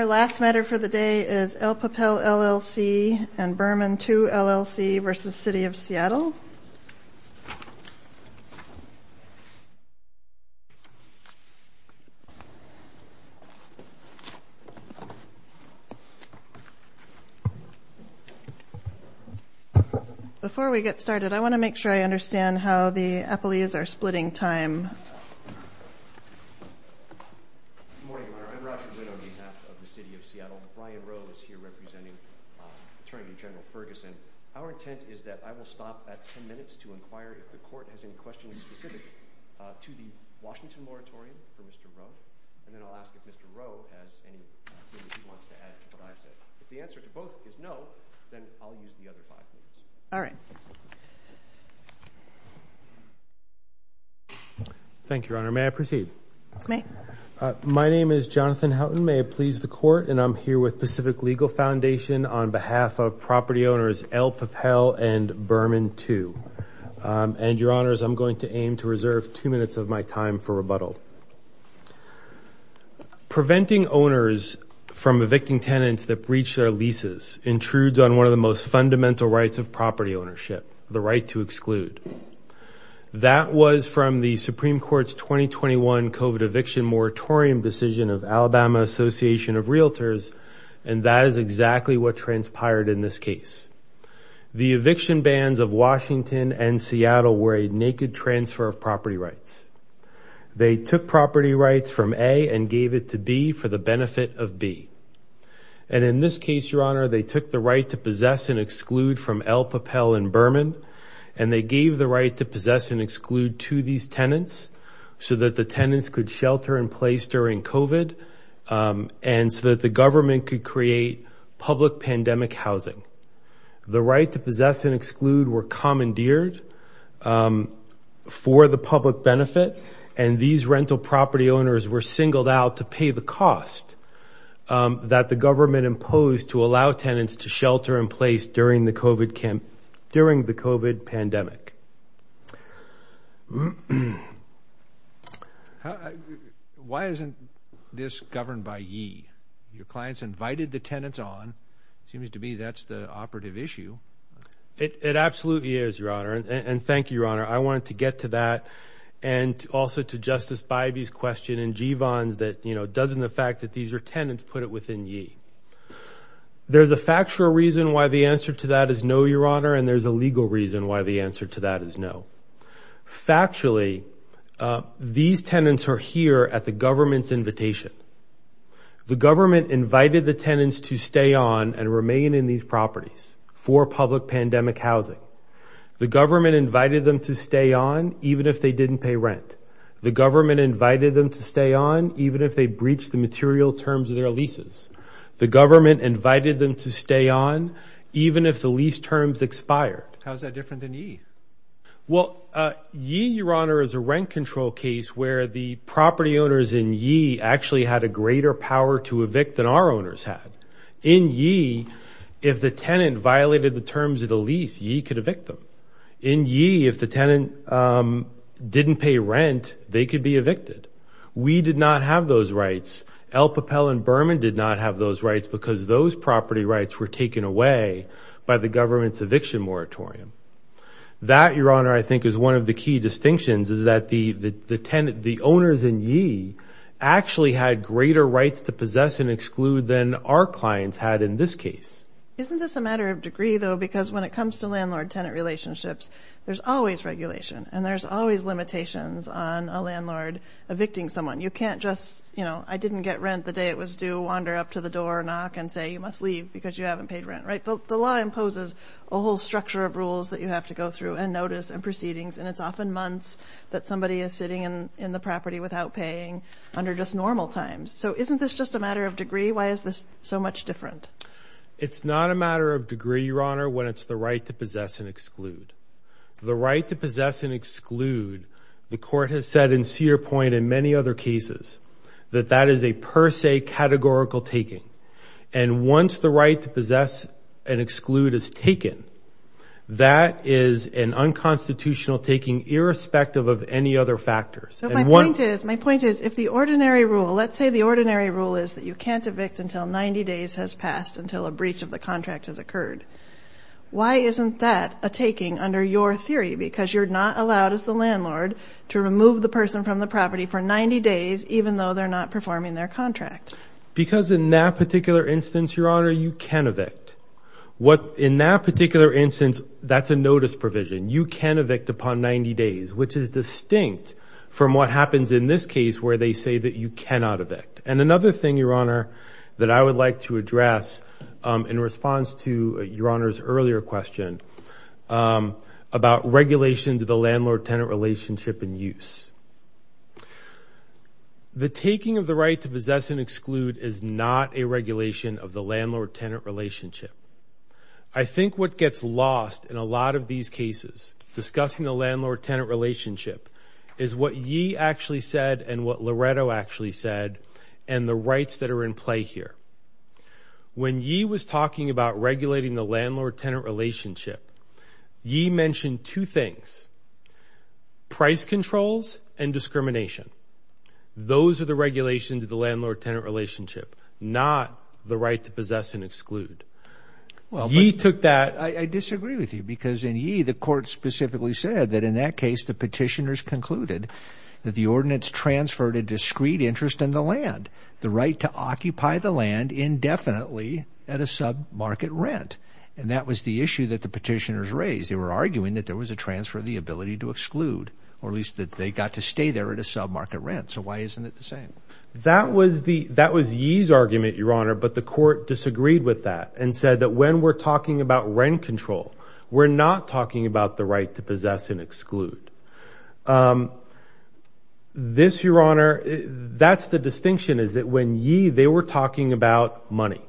El Papel, LLC v. Burman, II, LLC v. City of Seattle Good morning, Your Honor. I'm Roger Glynn on behalf of the City of Seattle. Brian Rowe is here representing Attorney General Ferguson. Our intent is that I will stop at 10 minutes to inquire if the Court has any questions specific to the Washington moratorium for Mr. Rowe, and then I'll ask if Mr. Rowe has any questions he wants to add to what I've All right. Thank you, Your Honor. May I proceed? May. My name is Jonathan Houghton. May it please the Court? And I'm here with Pacific Legal Foundation on behalf of property owners El Papel and Burman, II. And, Your Honors, I'm going to aim to reserve two minutes of my time for rebuttal. Preventing owners from evicting tenants that breach their leases intrudes on one of the most fundamental rights of property ownership, the right to exclude. That was from the Supreme Court's 2021 COVID eviction moratorium decision of Alabama Association of Realtors, and that is exactly what transpired in this case. The eviction bans of Washington and Seattle were a naked transfer of property rights. They took property rights from A and gave it to B for the benefit of B. And in this case, Your Honor, they took the right to possess and exclude from El Papel and Burman, and they gave the right to possess and exclude to these tenants so that the tenants could shelter in place during COVID and so that the government could create public pandemic housing. The right to possess and exclude were commandeered for the public benefit, and these rental property owners were singled out to pay the cost that the government imposed to allow tenants to shelter in place during the COVID pandemic. Why isn't this governed by ye? Your clients invited the tenants on. Seems to me that's the operative issue. It absolutely is, Your Honor, and thank you, Your Honor. I wanted to get to that and also to Justice Bybee's question and Jeevon's that, you know, doesn't the fact that these are tenants put it within ye? There's a factual reason why the answer to that is no, Your Honor, and there's a legal reason why the answer to that is no. Factually, these tenants are here at the government's invitation. The government invited the tenants to stay on and remain in these properties for public pandemic housing. The government invited them to stay on even if they didn't pay rent. The government invited them to stay on even if they breached the material terms of their leases. The government invited them to stay on even if the lease terms expired. How's that different than ye? Well, ye, Your Honor, is a rent control case where the property owners in ye actually had a greater power to evict than our owners had. In ye, if the tenant violated the terms of the lease, ye could evict them. In ye, if the tenant didn't pay rent, they could be evicted. We did not have those rights. El Papel and Berman did not have those rights because those property rights were taken away by the government's eviction moratorium. That, Your Honor, I think is one of the key distinctions is that the owners in ye actually had greater rights to possess and exclude than our clients had in this case. Isn't this a matter of degree though? Because when it comes to landlord tenant relationships, there's always regulation and there's always limitations on a landlord evicting someone. You can't just, you know, I didn't get rent the day it was due, wander up to the door, knock and say, you must leave because you haven't paid rent, right? The law imposes a whole structure of rules that you have to go through and notice and proceedings. And it's often months that somebody is sitting in the property without paying under just normal times. So isn't this just a matter of degree? Why is this so much different? It's not a matter of degree, Your Honor, when it's the right to possess and exclude. The right to possess and exclude, the court has said, and see your point in many other cases, that that is a per se categorical taking. And once the right to possess and exclude is taken, that is an unconstitutional taking irrespective of any other factors. My point is, my point is, if the ordinary rule, let's say the ordinary rule is that you can't evict until 90 days has passed, until a breach of the contract has occurred. Why isn't that a taking under your theory? Because you're not allowed as the landlord to remove the person from the property for 90 days, even though they're not performing their contract. Because in that particular instance, Your Honor, you can evict. In that particular instance, that's a notice provision. You can evict upon 90 days, which is distinct from what happens in this case where they say that you cannot evict. And another thing, Your Honor, that I would like to address in response to Your Honor's earlier question about regulation to the landlord-tenant relationship and use. The taking of the right to possess and exclude is not a regulation of the landlord-tenant relationship. I think what gets lost in a lot of these cases discussing the landlord-tenant relationship is what Yee actually said and what Loretto actually said and the rights that are in play here. When Yee was talking about regulating the landlord-tenant relationship, Yee mentioned two things, price controls and discrimination. Those are the regulations of the landlord-tenant relationship, not the right to possess and exclude. I disagree with you because in Yee, the court specifically said that in that case, the petitioners concluded that the ordinance transferred a discrete interest in the land, the right to occupy the land indefinitely at a sub-market rent. And that was the issue that the petitioners raised. They were arguing that there was a transfer of the ability to exclude or at least that they got to stay there at a sub-market rent. So why isn't it the same? That was Yee's argument, Your Honor, but the court disagreed with that and said that when we're talking about rent control, we're not talking about the right to possess and exclude. This, Your Honor, that's the distinction is that when Yee, they were talking about money.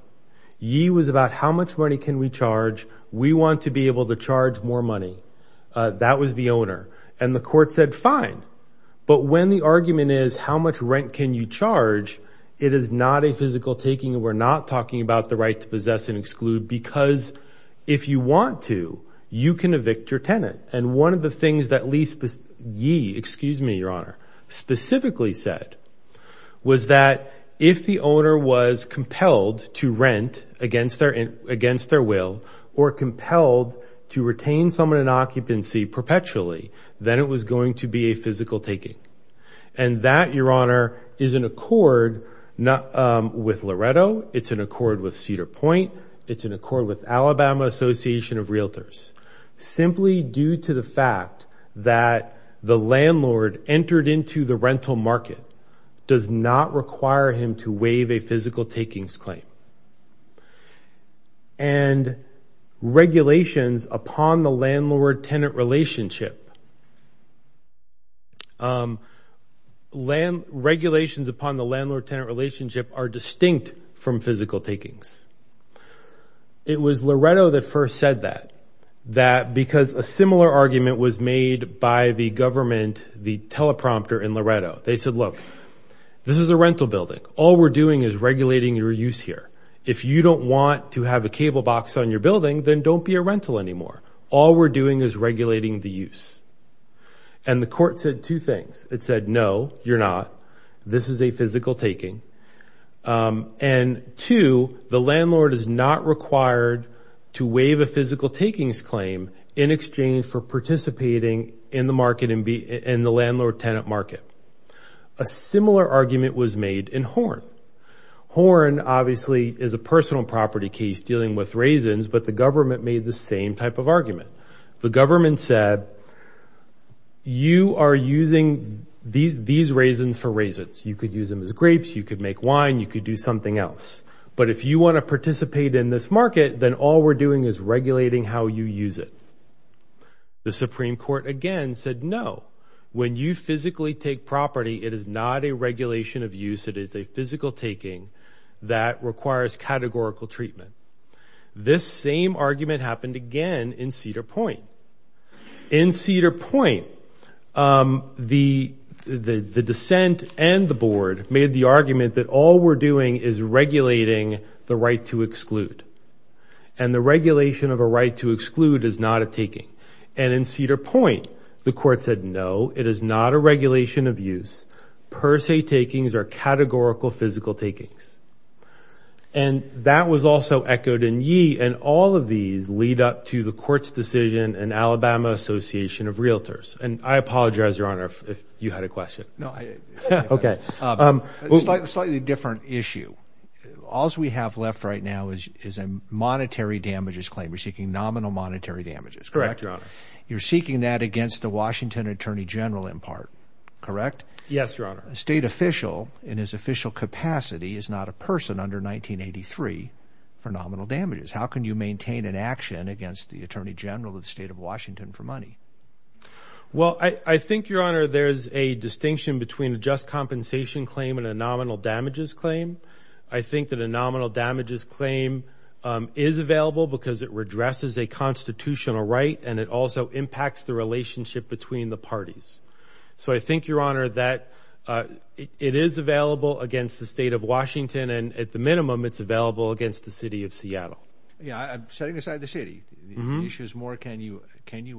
Yee was about how much money can we charge? We want to be able to charge more money. That was the owner. And the court said, fine. But when the argument is how much rent can you charge, it is not a physical taking. We're not talking about the right to possess and exclude because if you want to, you can evict your tenant. And one of the things that Yee, excuse me, Your Honor, specifically said was that if the owner was compelled to rent against their will or compelled to retain someone in occupancy perpetually, then it was going to be a physical taking. And that, Your Honor, is in accord with Loretto. It's in accord with Cedar Point. It's in accord with Alabama Association of Realtors. Simply due to the fact that the landlord entered into the rental market does not require him to waive a physical takings claim. And regulations upon the landlord-tenant relationship, regulations upon the landlord-tenant relationship are distinct from physical takings. It was Loretto that first said that. That because a similar argument was made by the government, the teleprompter in Loretto. They said, look, this is a rental building. All we're doing is regulating your use here. If you don't want to have a cable box on your building, then don't be a rental anymore. All we're doing is regulating the use. And the court said two things. It said, no, you're not. This is a physical taking. And two, the landlord is not required to waive a physical takings claim in exchange for participating in the market and the landlord-tenant market. A similar argument was made in Horn. Horn, obviously, is a personal property case dealing with raisins, but the government made the same type of argument. The government said, you are using these raisins for raisins. You could use them as grapes. You could make wine. You could do something else. But if you want to participate in this market, then all we're doing is regulating how you use it. The Supreme Court again said, no. When you physically take property, it is not a regulation of use. It is a physical taking that requires categorical treatment. This same argument happened again in Cedar Point. In Cedar Point, the dissent and the board made the argument that all we're doing is regulating the right to exclude. And the regulation of a right to exclude is not a taking. And in Cedar Point, the court said, no, it is not a regulation of use. Per se takings are categorical physical takings. And that was also echoed in Yee. And all of these lead up to the court's decision and Alabama Association of Realtors. And I apologize, Your Honor, if you had a question. Okay. Slightly different issue. All we have left right now is a monetary damages claim. We're seeking nominal monetary damages, correct? Correct, Your Honor. You're seeking that against the Washington Attorney General in part, correct? Yes, Your Honor. A state official in his official capacity is not a person under 1983 for nominal damages. How can you maintain an action against the Attorney General of the State of Washington for money? Well, I think, Your Honor, there's a distinction between a just compensation claim and a nominal damages claim. I think that a nominal damages claim is available because it redresses a constitutional right and it also impacts the relationship between the parties. So I think, Your Honor, that it is available against the State of Washington. And at the minimum, it's available against the City of Seattle. Setting aside the city issues more, can you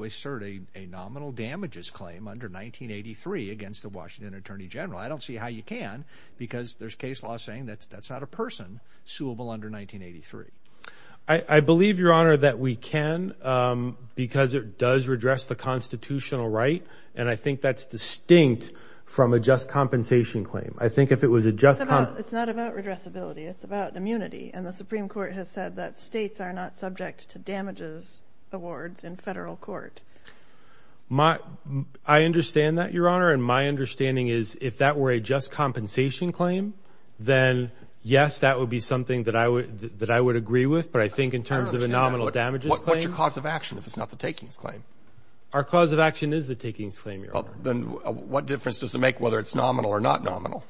assert a nominal damages claim under 1983 against the Washington Attorney General? I don't see how you can because there's case law saying that's not a person suable under 1983. I believe, Your Honor, that we can because it does redress the constitutional right. And I think that's distinct from a just compensation claim. I think if it was a just... It's not about redressability. It's about immunity. And the Supreme Court has said that states are not subject to damages awards in federal court. I understand that, Your Honor. And my understanding is if that were a just compensation claim, then, yes, that would be something that I would agree with. But I think in terms of a nominal damages claim... I don't understand that. What's your cause of action if it's not the takings claim? Our cause of action is the takings claim, Your Honor. Well, then what difference does it make whether it's nominal or not nominal?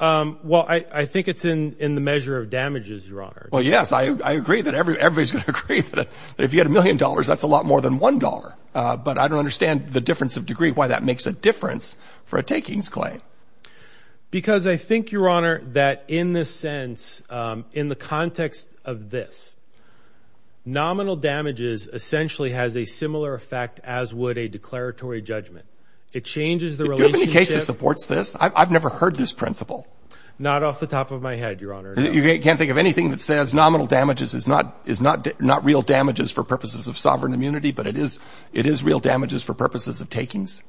Well, I think it's in the measure of damages, Your Honor. Well, yes. I agree that everybody's going to agree that if you had a million dollars, that's a lot more than one dollar. But I don't understand the difference of degree, why that makes a difference for a takings claim. Because I think, Your Honor, that in this sense, in the context of this, nominal damages essentially has a similar effect as would a declaratory judgment. It changes the relationship... Do you have any case that supports this? I've never heard this principle. Not off the top of my head, Your Honor. You can't think of anything that says nominal damages is not real damages for purposes of sovereign immunity, but it is real damages for purposes of takings?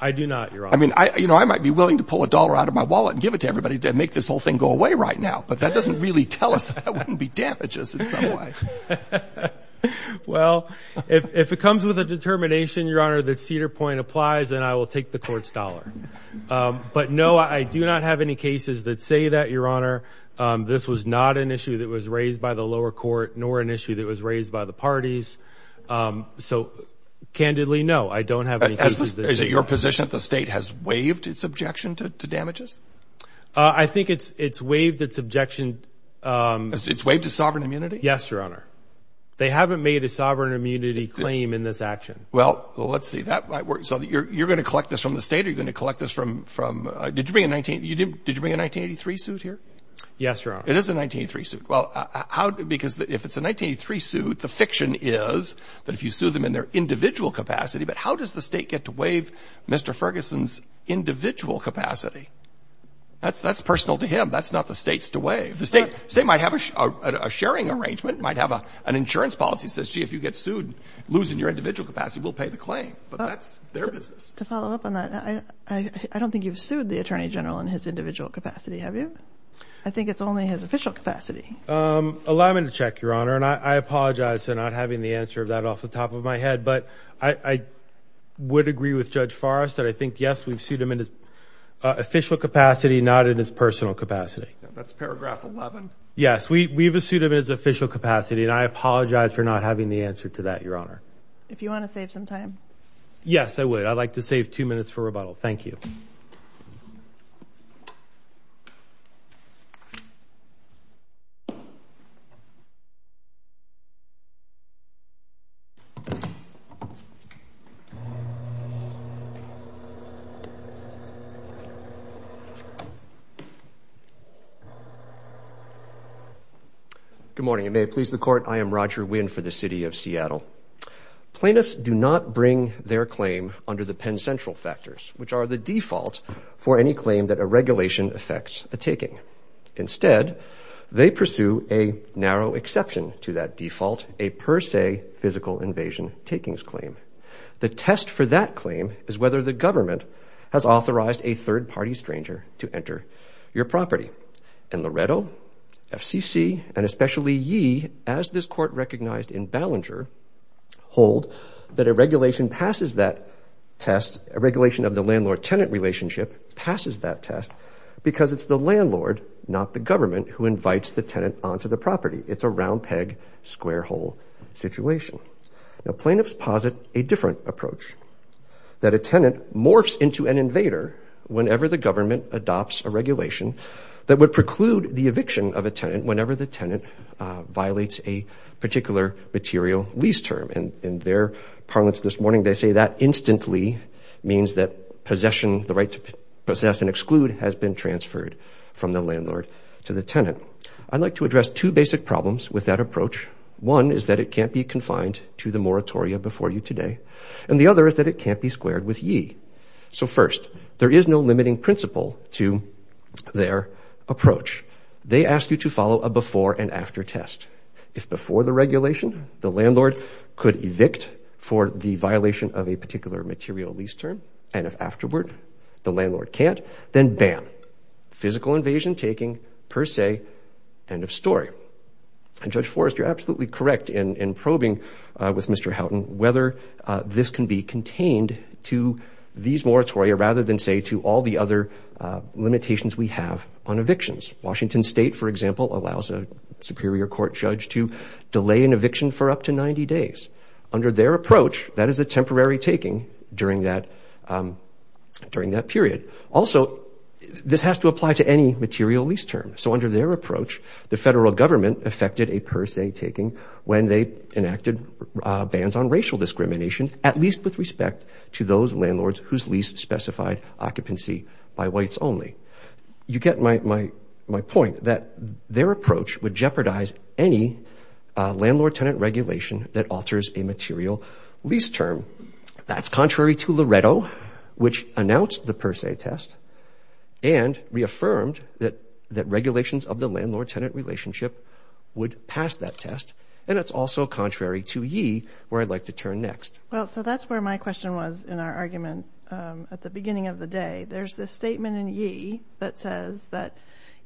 I do not, Your Honor. I mean, I might be willing to pull a dollar out of my wallet and give it to everybody to make this whole thing go away right now, but that doesn't really tell us that that wouldn't be damages in some way. Well, if it comes with a determination, Your Honor, that Cedar Point applies, then I will take the court's dollar. But no, I do not have any cases that say that, Your Honor, this was not an issue that was raised by the lower court, nor an issue that was raised by the parties. So, candidly, no, I don't have any cases that say that. Is it your position that the state has waived its objection to damages? I think it's waived its objection... It's waived its sovereign immunity? Yes, Your Honor. They haven't made a sovereign immunity claim in this action. Well, let's see. That might work. So you're going to collect this from the state or you're going to collect this from... Did you bring a 1983 suit here? Yes, Your Honor. It is a 1983 suit. Well, because if it's a 1983 suit, the fiction is that if you sue them in their individual capacity, but how does the state get to waive Mr. Ferguson's individual capacity? That's personal to him. That's not the state's to waive. The state might have a sharing arrangement. It might have an insurance policy that says, gee, if you get sued, losing your individual capacity, we'll pay the claim. But that's their business. To follow up on that, I don't think you've sued the Attorney General in his individual capacity, have you? I think it's only his official capacity. Allow me to check, Your Honor, and I apologize for not having the answer of that off the top of my head, but I would agree with Judge Forrest that I think, yes, we've sued him in his official capacity, not in his personal capacity. That's paragraph 11. Yes, we've sued him in his official capacity, and I apologize for not having the answer to that, Your Honor. If you want to save some time. Yes, I would. I'd like to save two minutes for rebuttal. Thank you. Good morning, and may it please the Court. I am Roger Winn for the City of Seattle. Plaintiffs do not bring their claim under the Penn Central factors, which are the default for any claim that a regulation affects a taking. Instead, they pursue a narrow exception to that default, a per se physical invasion takings claim. The test for that claim is whether the government has authorized a third-party stranger to enter your property. And Loretto, FCC, and especially ye, as this Court recognized in Ballenger, hold that a regulation passes that test, a regulation of the landlord-tenant relationship, passes that test because it's the landlord, not the government, who invites the tenant onto the property. It's a round peg, square hole situation. Now, plaintiffs posit a different approach, that a tenant morphs into an invader whenever the government adopts a regulation that would preclude the eviction of a tenant whenever the tenant violates a particular material lease term. And in their parlance this morning, they say that instantly means that possession, the right to possess and exclude, has been transferred from the landlord to the tenant. I'd like to address two basic problems with that approach. One is that it can't be confined to the moratoria before you today. And the other is that it can't be squared with ye. So first, there is no limiting principle to their approach. They ask you to follow a before-and-after test. If before the regulation, the landlord could evict for the violation of a particular material lease term, and if afterward, the landlord can't, then bam. Physical invasion taking, per se, end of story. And Judge Forrest, you're absolutely correct in probing with Mr. Houghton whether this can be contained to these moratoria rather than, say, to all the other limitations we have on evictions. Washington State, for example, allows a superior court judge to delay an eviction for up to 90 days. Under their approach, that is a temporary taking during that period. Also, this has to apply to any material lease term. So under their approach, the federal government affected a per se taking when they enacted bans on racial discrimination, at least with respect to those landlords whose lease specified occupancy by whites only. You get my point, that their approach would jeopardize any landlord-tenant regulation that alters a material lease term. That's contrary to Loretto, which announced the per se test and reaffirmed that regulations of the landlord-tenant relationship would pass that test, and it's also contrary to Yee, where I'd like to turn next. Well, so that's where my question was in our argument at the beginning of the day. There's this statement in Yee that says that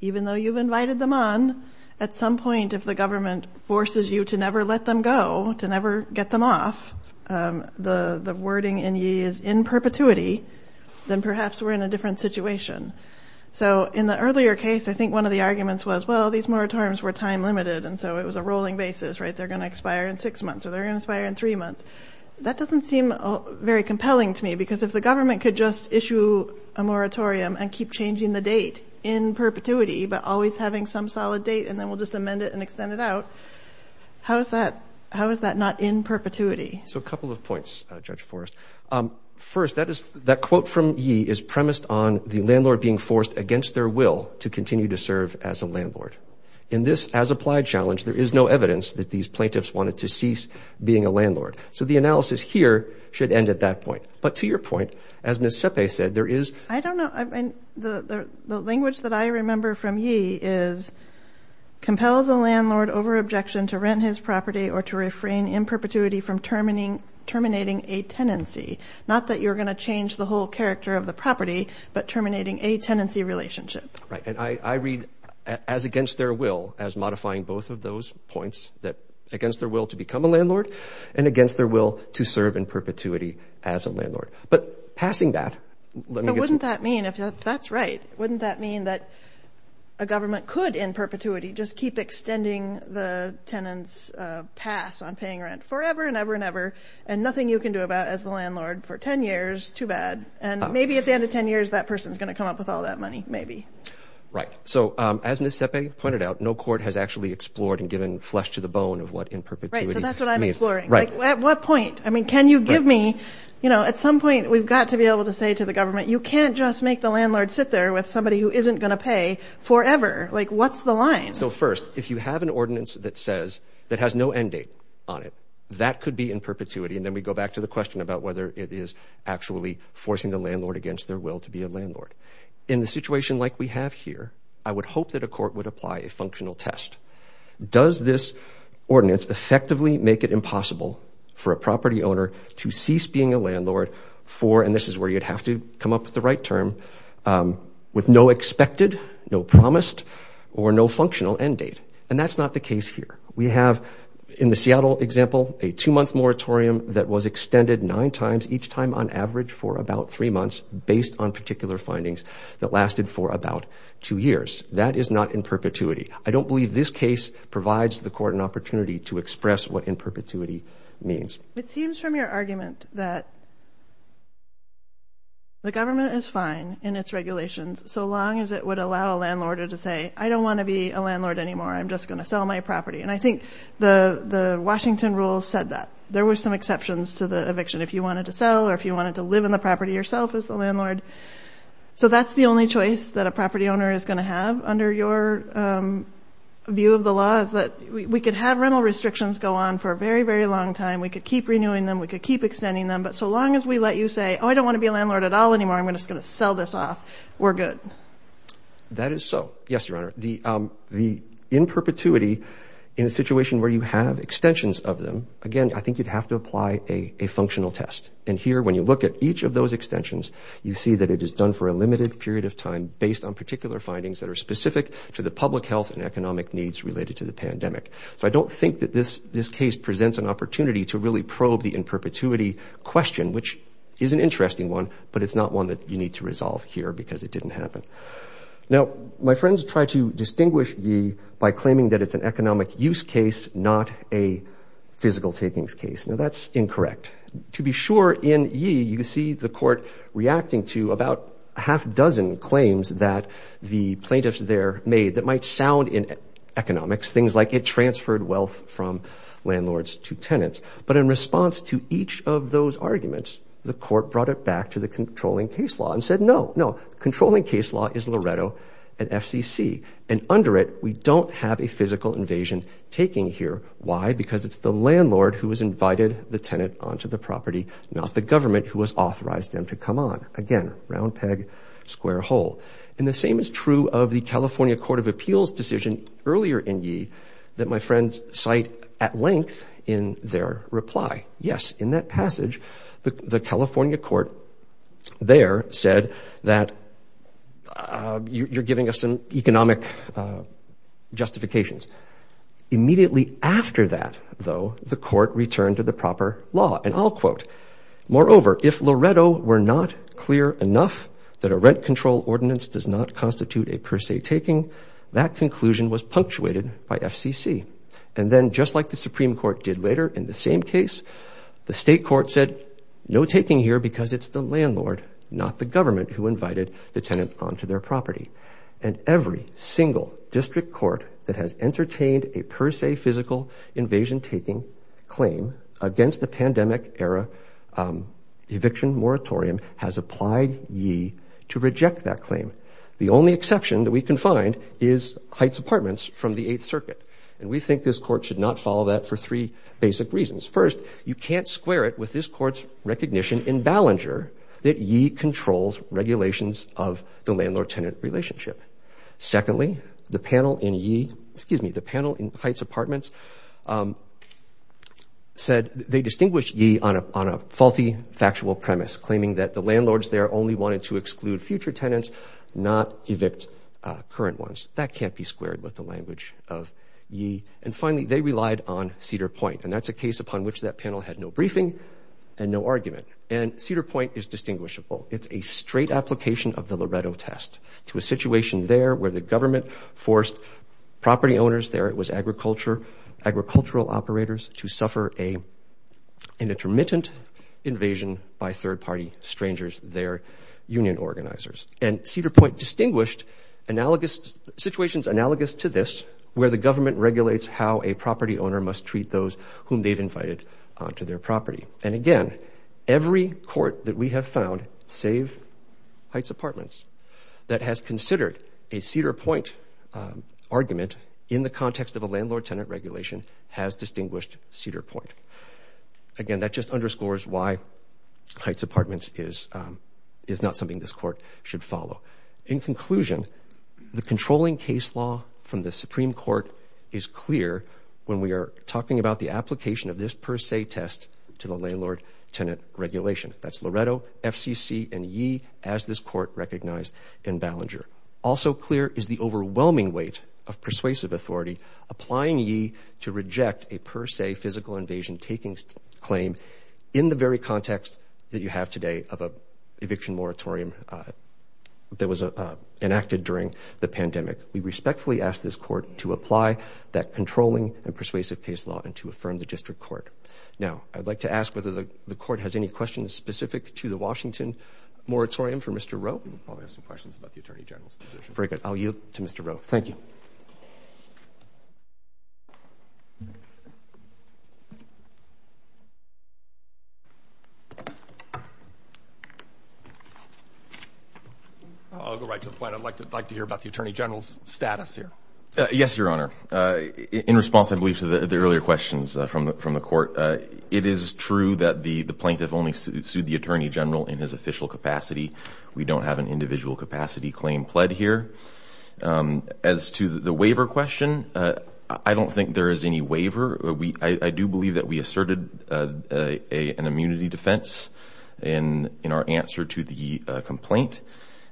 even though you've invited them on, at some point if the government forces you to never let them go, to never get them off, the wording in Yee is in perpetuity, then perhaps we're in a different situation. So in the earlier case, I think one of the arguments was, well, these moratoriums were time-limited, and so it was a rolling basis, right? They're going to expire in six months or they're going to expire in three months. That doesn't seem very compelling to me because if the government could just issue a moratorium and keep changing the date in perpetuity but always having some solid date and then we'll just amend it and extend it out, how is that not in perpetuity? So a couple of points, Judge Forrest. First, that quote from Yee is premised on the landlord being forced against their will to continue to serve as a landlord. In this as-applied challenge, there is no evidence that these plaintiffs wanted to cease being a landlord. So the analysis here should end at that point. But to your point, as Ms. Sepe said, there is— I don't know. The language that I remember from Yee is compels a landlord over objection to rent his property or to refrain in perpetuity from terminating a tenancy, not that you're going to change the whole character of the property, but terminating a tenancy relationship. Right. And I read as against their will as modifying both of those points, against their will to become a landlord and against their will to serve in perpetuity as a landlord. But passing that— But wouldn't that mean, if that's right, wouldn't that mean that a government could in perpetuity just keep extending the tenant's pass on paying rent forever and ever and ever and nothing you can do about as the landlord for 10 years, too bad. And maybe at the end of 10 years, that person is going to come up with all that money. Maybe. Right. So as Ms. Sepe pointed out, no court has actually explored and given flesh to the bone of what in perpetuity— Right. So that's what I'm exploring. At what point? I mean, can you give me— At some point, we've got to be able to say to the government, you can't just make the landlord sit there with somebody who isn't going to pay forever. Like, what's the line? So first, if you have an ordinance that says—that has no end date on it, that could be in perpetuity. And then we go back to the question about whether it is actually forcing the landlord against their will to be a landlord. In the situation like we have here, I would hope that a court would apply a functional test. Does this ordinance effectively make it impossible for a property owner to cease being a landlord for— and this is where you'd have to come up with the right term—with no expected, no promised, or no functional end date? And that's not the case here. We have, in the Seattle example, a two-month moratorium that was extended nine times each time on average for about three months based on particular findings that lasted for about two years. That is not in perpetuity. I don't believe this case provides the court an opportunity to express what in perpetuity means. It seems from your argument that the government is fine in its regulations so long as it would allow a landlord to say, I don't want to be a landlord anymore. I'm just going to sell my property. And I think the Washington rules said that. There were some exceptions to the eviction if you wanted to sell or if you wanted to live in the property yourself as the landlord. So that's the only choice that a property owner is going to have under your view of the law is that we could have rental restrictions go on for a very, very long time. We could keep renewing them. We could keep extending them. But so long as we let you say, oh, I don't want to be a landlord at all anymore. I'm just going to sell this off. We're good. That is so. Yes, Your Honor. The in perpetuity in a situation where you have extensions of them, again, I think you'd have to apply a functional test. And here, when you look at each of those extensions, you see that it is done for a limited period of time based on particular findings that are specific to the public health and economic needs related to the pandemic. So I don't think that this this case presents an opportunity to really probe the in perpetuity question, which is an interesting one, but it's not one that you need to resolve here because it didn't happen. Now, my friends try to distinguish the by claiming that it's an economic use case, not a physical takings case. Now, that's incorrect. To be sure in ye, you see the court reacting to about a half dozen claims that the plaintiffs there made that might sound in economics, things like it transferred wealth from landlords to tenants. But in response to each of those arguments, the court brought it back to the controlling case law and said, no, no. This law is Loretto and FCC. And under it, we don't have a physical invasion taking here. Why? Because it's the landlord who has invited the tenant onto the property, not the government who has authorized them to come on. Again, round peg, square hole. And the same is true of the California Court of Appeals decision earlier in ye that my friends cite at length in their reply. Yes, in that passage, the California court there said that you're giving us some economic justifications. Immediately after that, though, the court returned to the proper law. And I'll quote, moreover, if Loretto were not clear enough that a rent control ordinance does not constitute a per se taking, that conclusion was punctuated by FCC. And then just like the Supreme Court did later in the same case, the state court said no taking here because it's the landlord, not the government who invited the tenant onto their property. And every single district court that has entertained a per se physical invasion taking claim against the pandemic era eviction moratorium has applied ye to reject that claim. The only exception that we can find is Heights Apartments from the Eighth Circuit. And we think this court should not follow that for three basic reasons. First, you can't square it with this court's recognition in Ballenger that ye controls regulations of the landlord-tenant relationship. Secondly, the panel in ye, excuse me, the panel in Heights Apartments said they distinguish ye on a faulty factual premise, claiming that the landlords there only wanted to exclude future tenants, not evict current ones. That can't be squared with the language of ye. And finally, they relied on Cedar Point. And that's a case upon which that panel had no briefing and no argument. And Cedar Point is distinguishable. It's a straight application of the Loreto test to a situation there where the government forced property owners there, it was agricultural operators, to suffer an intermittent invasion by third-party strangers there, union organizers. And Cedar Point distinguished analogous situations analogous to this where the government regulates how a property owner must treat those whom they've invited onto their property. And again, every court that we have found save Heights Apartments that has considered a Cedar Point argument in the context of a landlord-tenant regulation has distinguished Cedar Point. Again, that just underscores why Heights Apartments is not something this court should follow. In conclusion, the controlling case law from the Supreme Court is clear when we are talking about the application of this per se test to the landlord-tenant regulation. That's Loreto, FCC, and ye as this court recognized in Ballinger. Also clear is the overwhelming weight of persuasive authority applying ye to reject a per se physical invasion taking claim in the very context that you have today of an eviction moratorium that was enacted during the pandemic. We respectfully ask this court to apply that controlling and persuasive case law and to affirm the district court. Now, I'd like to ask whether the court has any questions specific to the Washington moratorium for Mr. Rowe. We probably have some questions about the Attorney General's position. Very good. I'll yield to Mr. Rowe. Thank you. I'll go right to the point. I'd like to hear about the Attorney General's status here. Yes, Your Honor. In response, I believe, to the earlier questions from the court, it is true that the plaintiff only sued the Attorney General in his official capacity. We don't have an individual capacity claim pled here. As to the waiver question, I don't think there is any waiver. I do believe that we asserted an immunity defense in our answer to the complaint,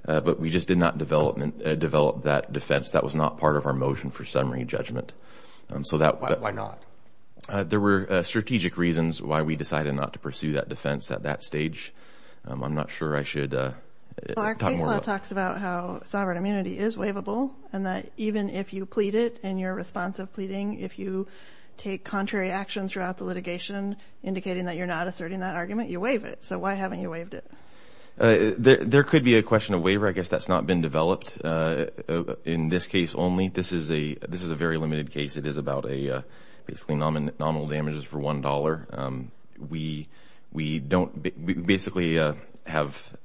but we just did not develop that defense. That was not part of our motion for summary judgment. Why not? There were strategic reasons why we decided not to pursue that defense at that stage. I'm not sure I should talk more about that. Our case law talks about how sovereign immunity is waivable and that even if you plead it and you're responsive pleading, if you take contrary actions throughout the litigation indicating that you're not asserting that argument, you waive it. So why haven't you waived it? There could be a question of waiver. I guess that's not been developed in this case only. This is a very limited case. It is about basically nominal damages for $1. We don't basically have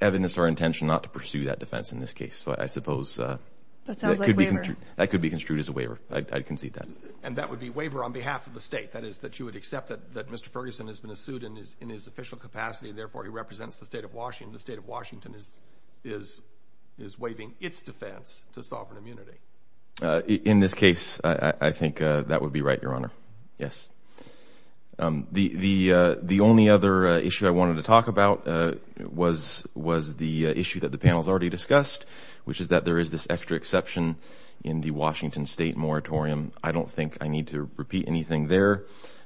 evidence or intention not to pursue that defense in this case. So I suppose that could be construed as a waiver. I concede that. And that would be waiver on behalf of the state, that is that you would accept that Mr. Ferguson has been sued in his official capacity and therefore he represents the state of Washington. The state of Washington is waiving its defense to sovereign immunity. In this case, I think that would be right, Your Honor. Yes. The only other issue I wanted to talk about was the issue that the panel has already discussed, which is that there is this extra exception in the Washington state moratorium. I don't think I need to repeat anything there.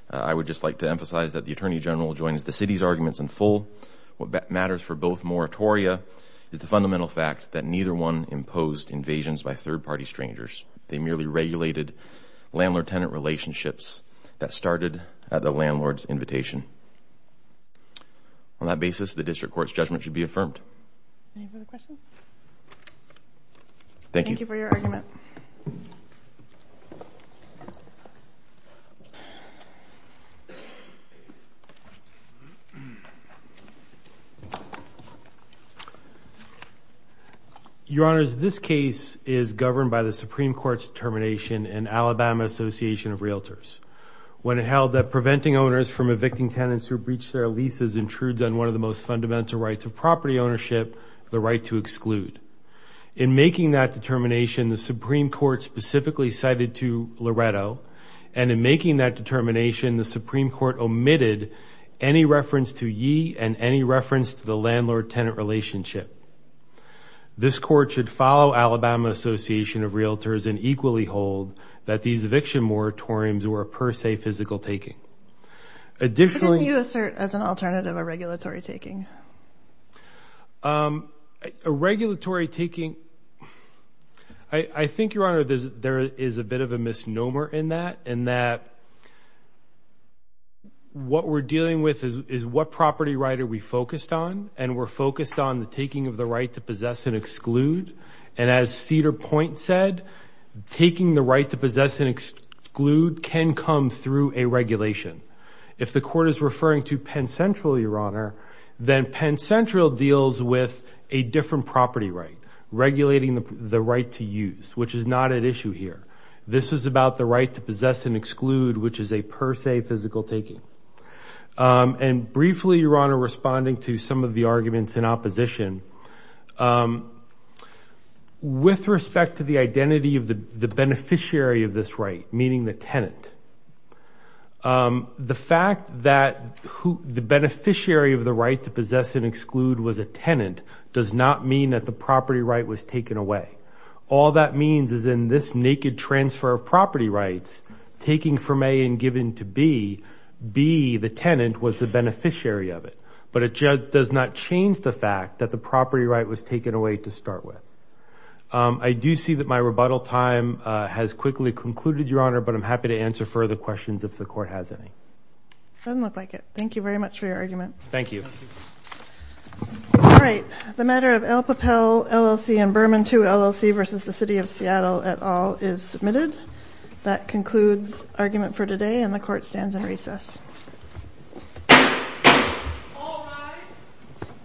I would just like to emphasize that the Attorney General joins the city's arguments in full. What matters for both moratoria is the fundamental fact that neither one imposed invasions by third-party strangers. They merely regulated landlord-tenant relationships that started at the landlord's invitation. On that basis, the district court's judgment should be affirmed. Any further questions? Thank you. Thank you for your argument. Thank you. Your Honors, this case is governed by the Supreme Court's determination in Alabama Association of Realtors. When it held that preventing owners from evicting tenants who breached their leases intrudes on one of the most fundamental rights of property ownership, the right to exclude. In making that determination, the Supreme Court specifically cited to Loretto, and in making that determination, the Supreme Court omitted any reference to ye and any reference to the landlord-tenant relationship. This court should follow Alabama Association of Realtors and equally hold that these eviction moratoriums were a per se physical taking. How did you assert as an alternative a regulatory taking? A regulatory taking, I think, Your Honor, there is a bit of a misnomer in that, in that what we're dealing with is what property right are we focused on, and we're focused on the taking of the right to possess and exclude. And as Cedar Point said, taking the right to possess and exclude can come through a regulation. If the court is referring to Penn Central, Your Honor, then Penn Central deals with a different property right, regulating the right to use, which is not at issue here. This is about the right to possess and exclude, which is a per se physical taking. And briefly, Your Honor, responding to some of the arguments in opposition, with respect to the identity of the beneficiary of this right, meaning the tenant, the fact that the beneficiary of the right to possess and exclude was a tenant does not mean that the property right was taken away. All that means is in this naked transfer of property rights, taking from A and giving to B, B, the tenant, was the beneficiary of it. But it does not change the fact that the property right was taken away to start with. I do see that my rebuttal time has quickly concluded, Your Honor, but I'm happy to answer further questions if the court has any. Doesn't look like it. Thank you very much for your argument. Thank you. All right. The matter of El Papel LLC and Berman II LLC versus the City of Seattle et al. is submitted. That concludes argument for today, and the court stands in recess. All rise.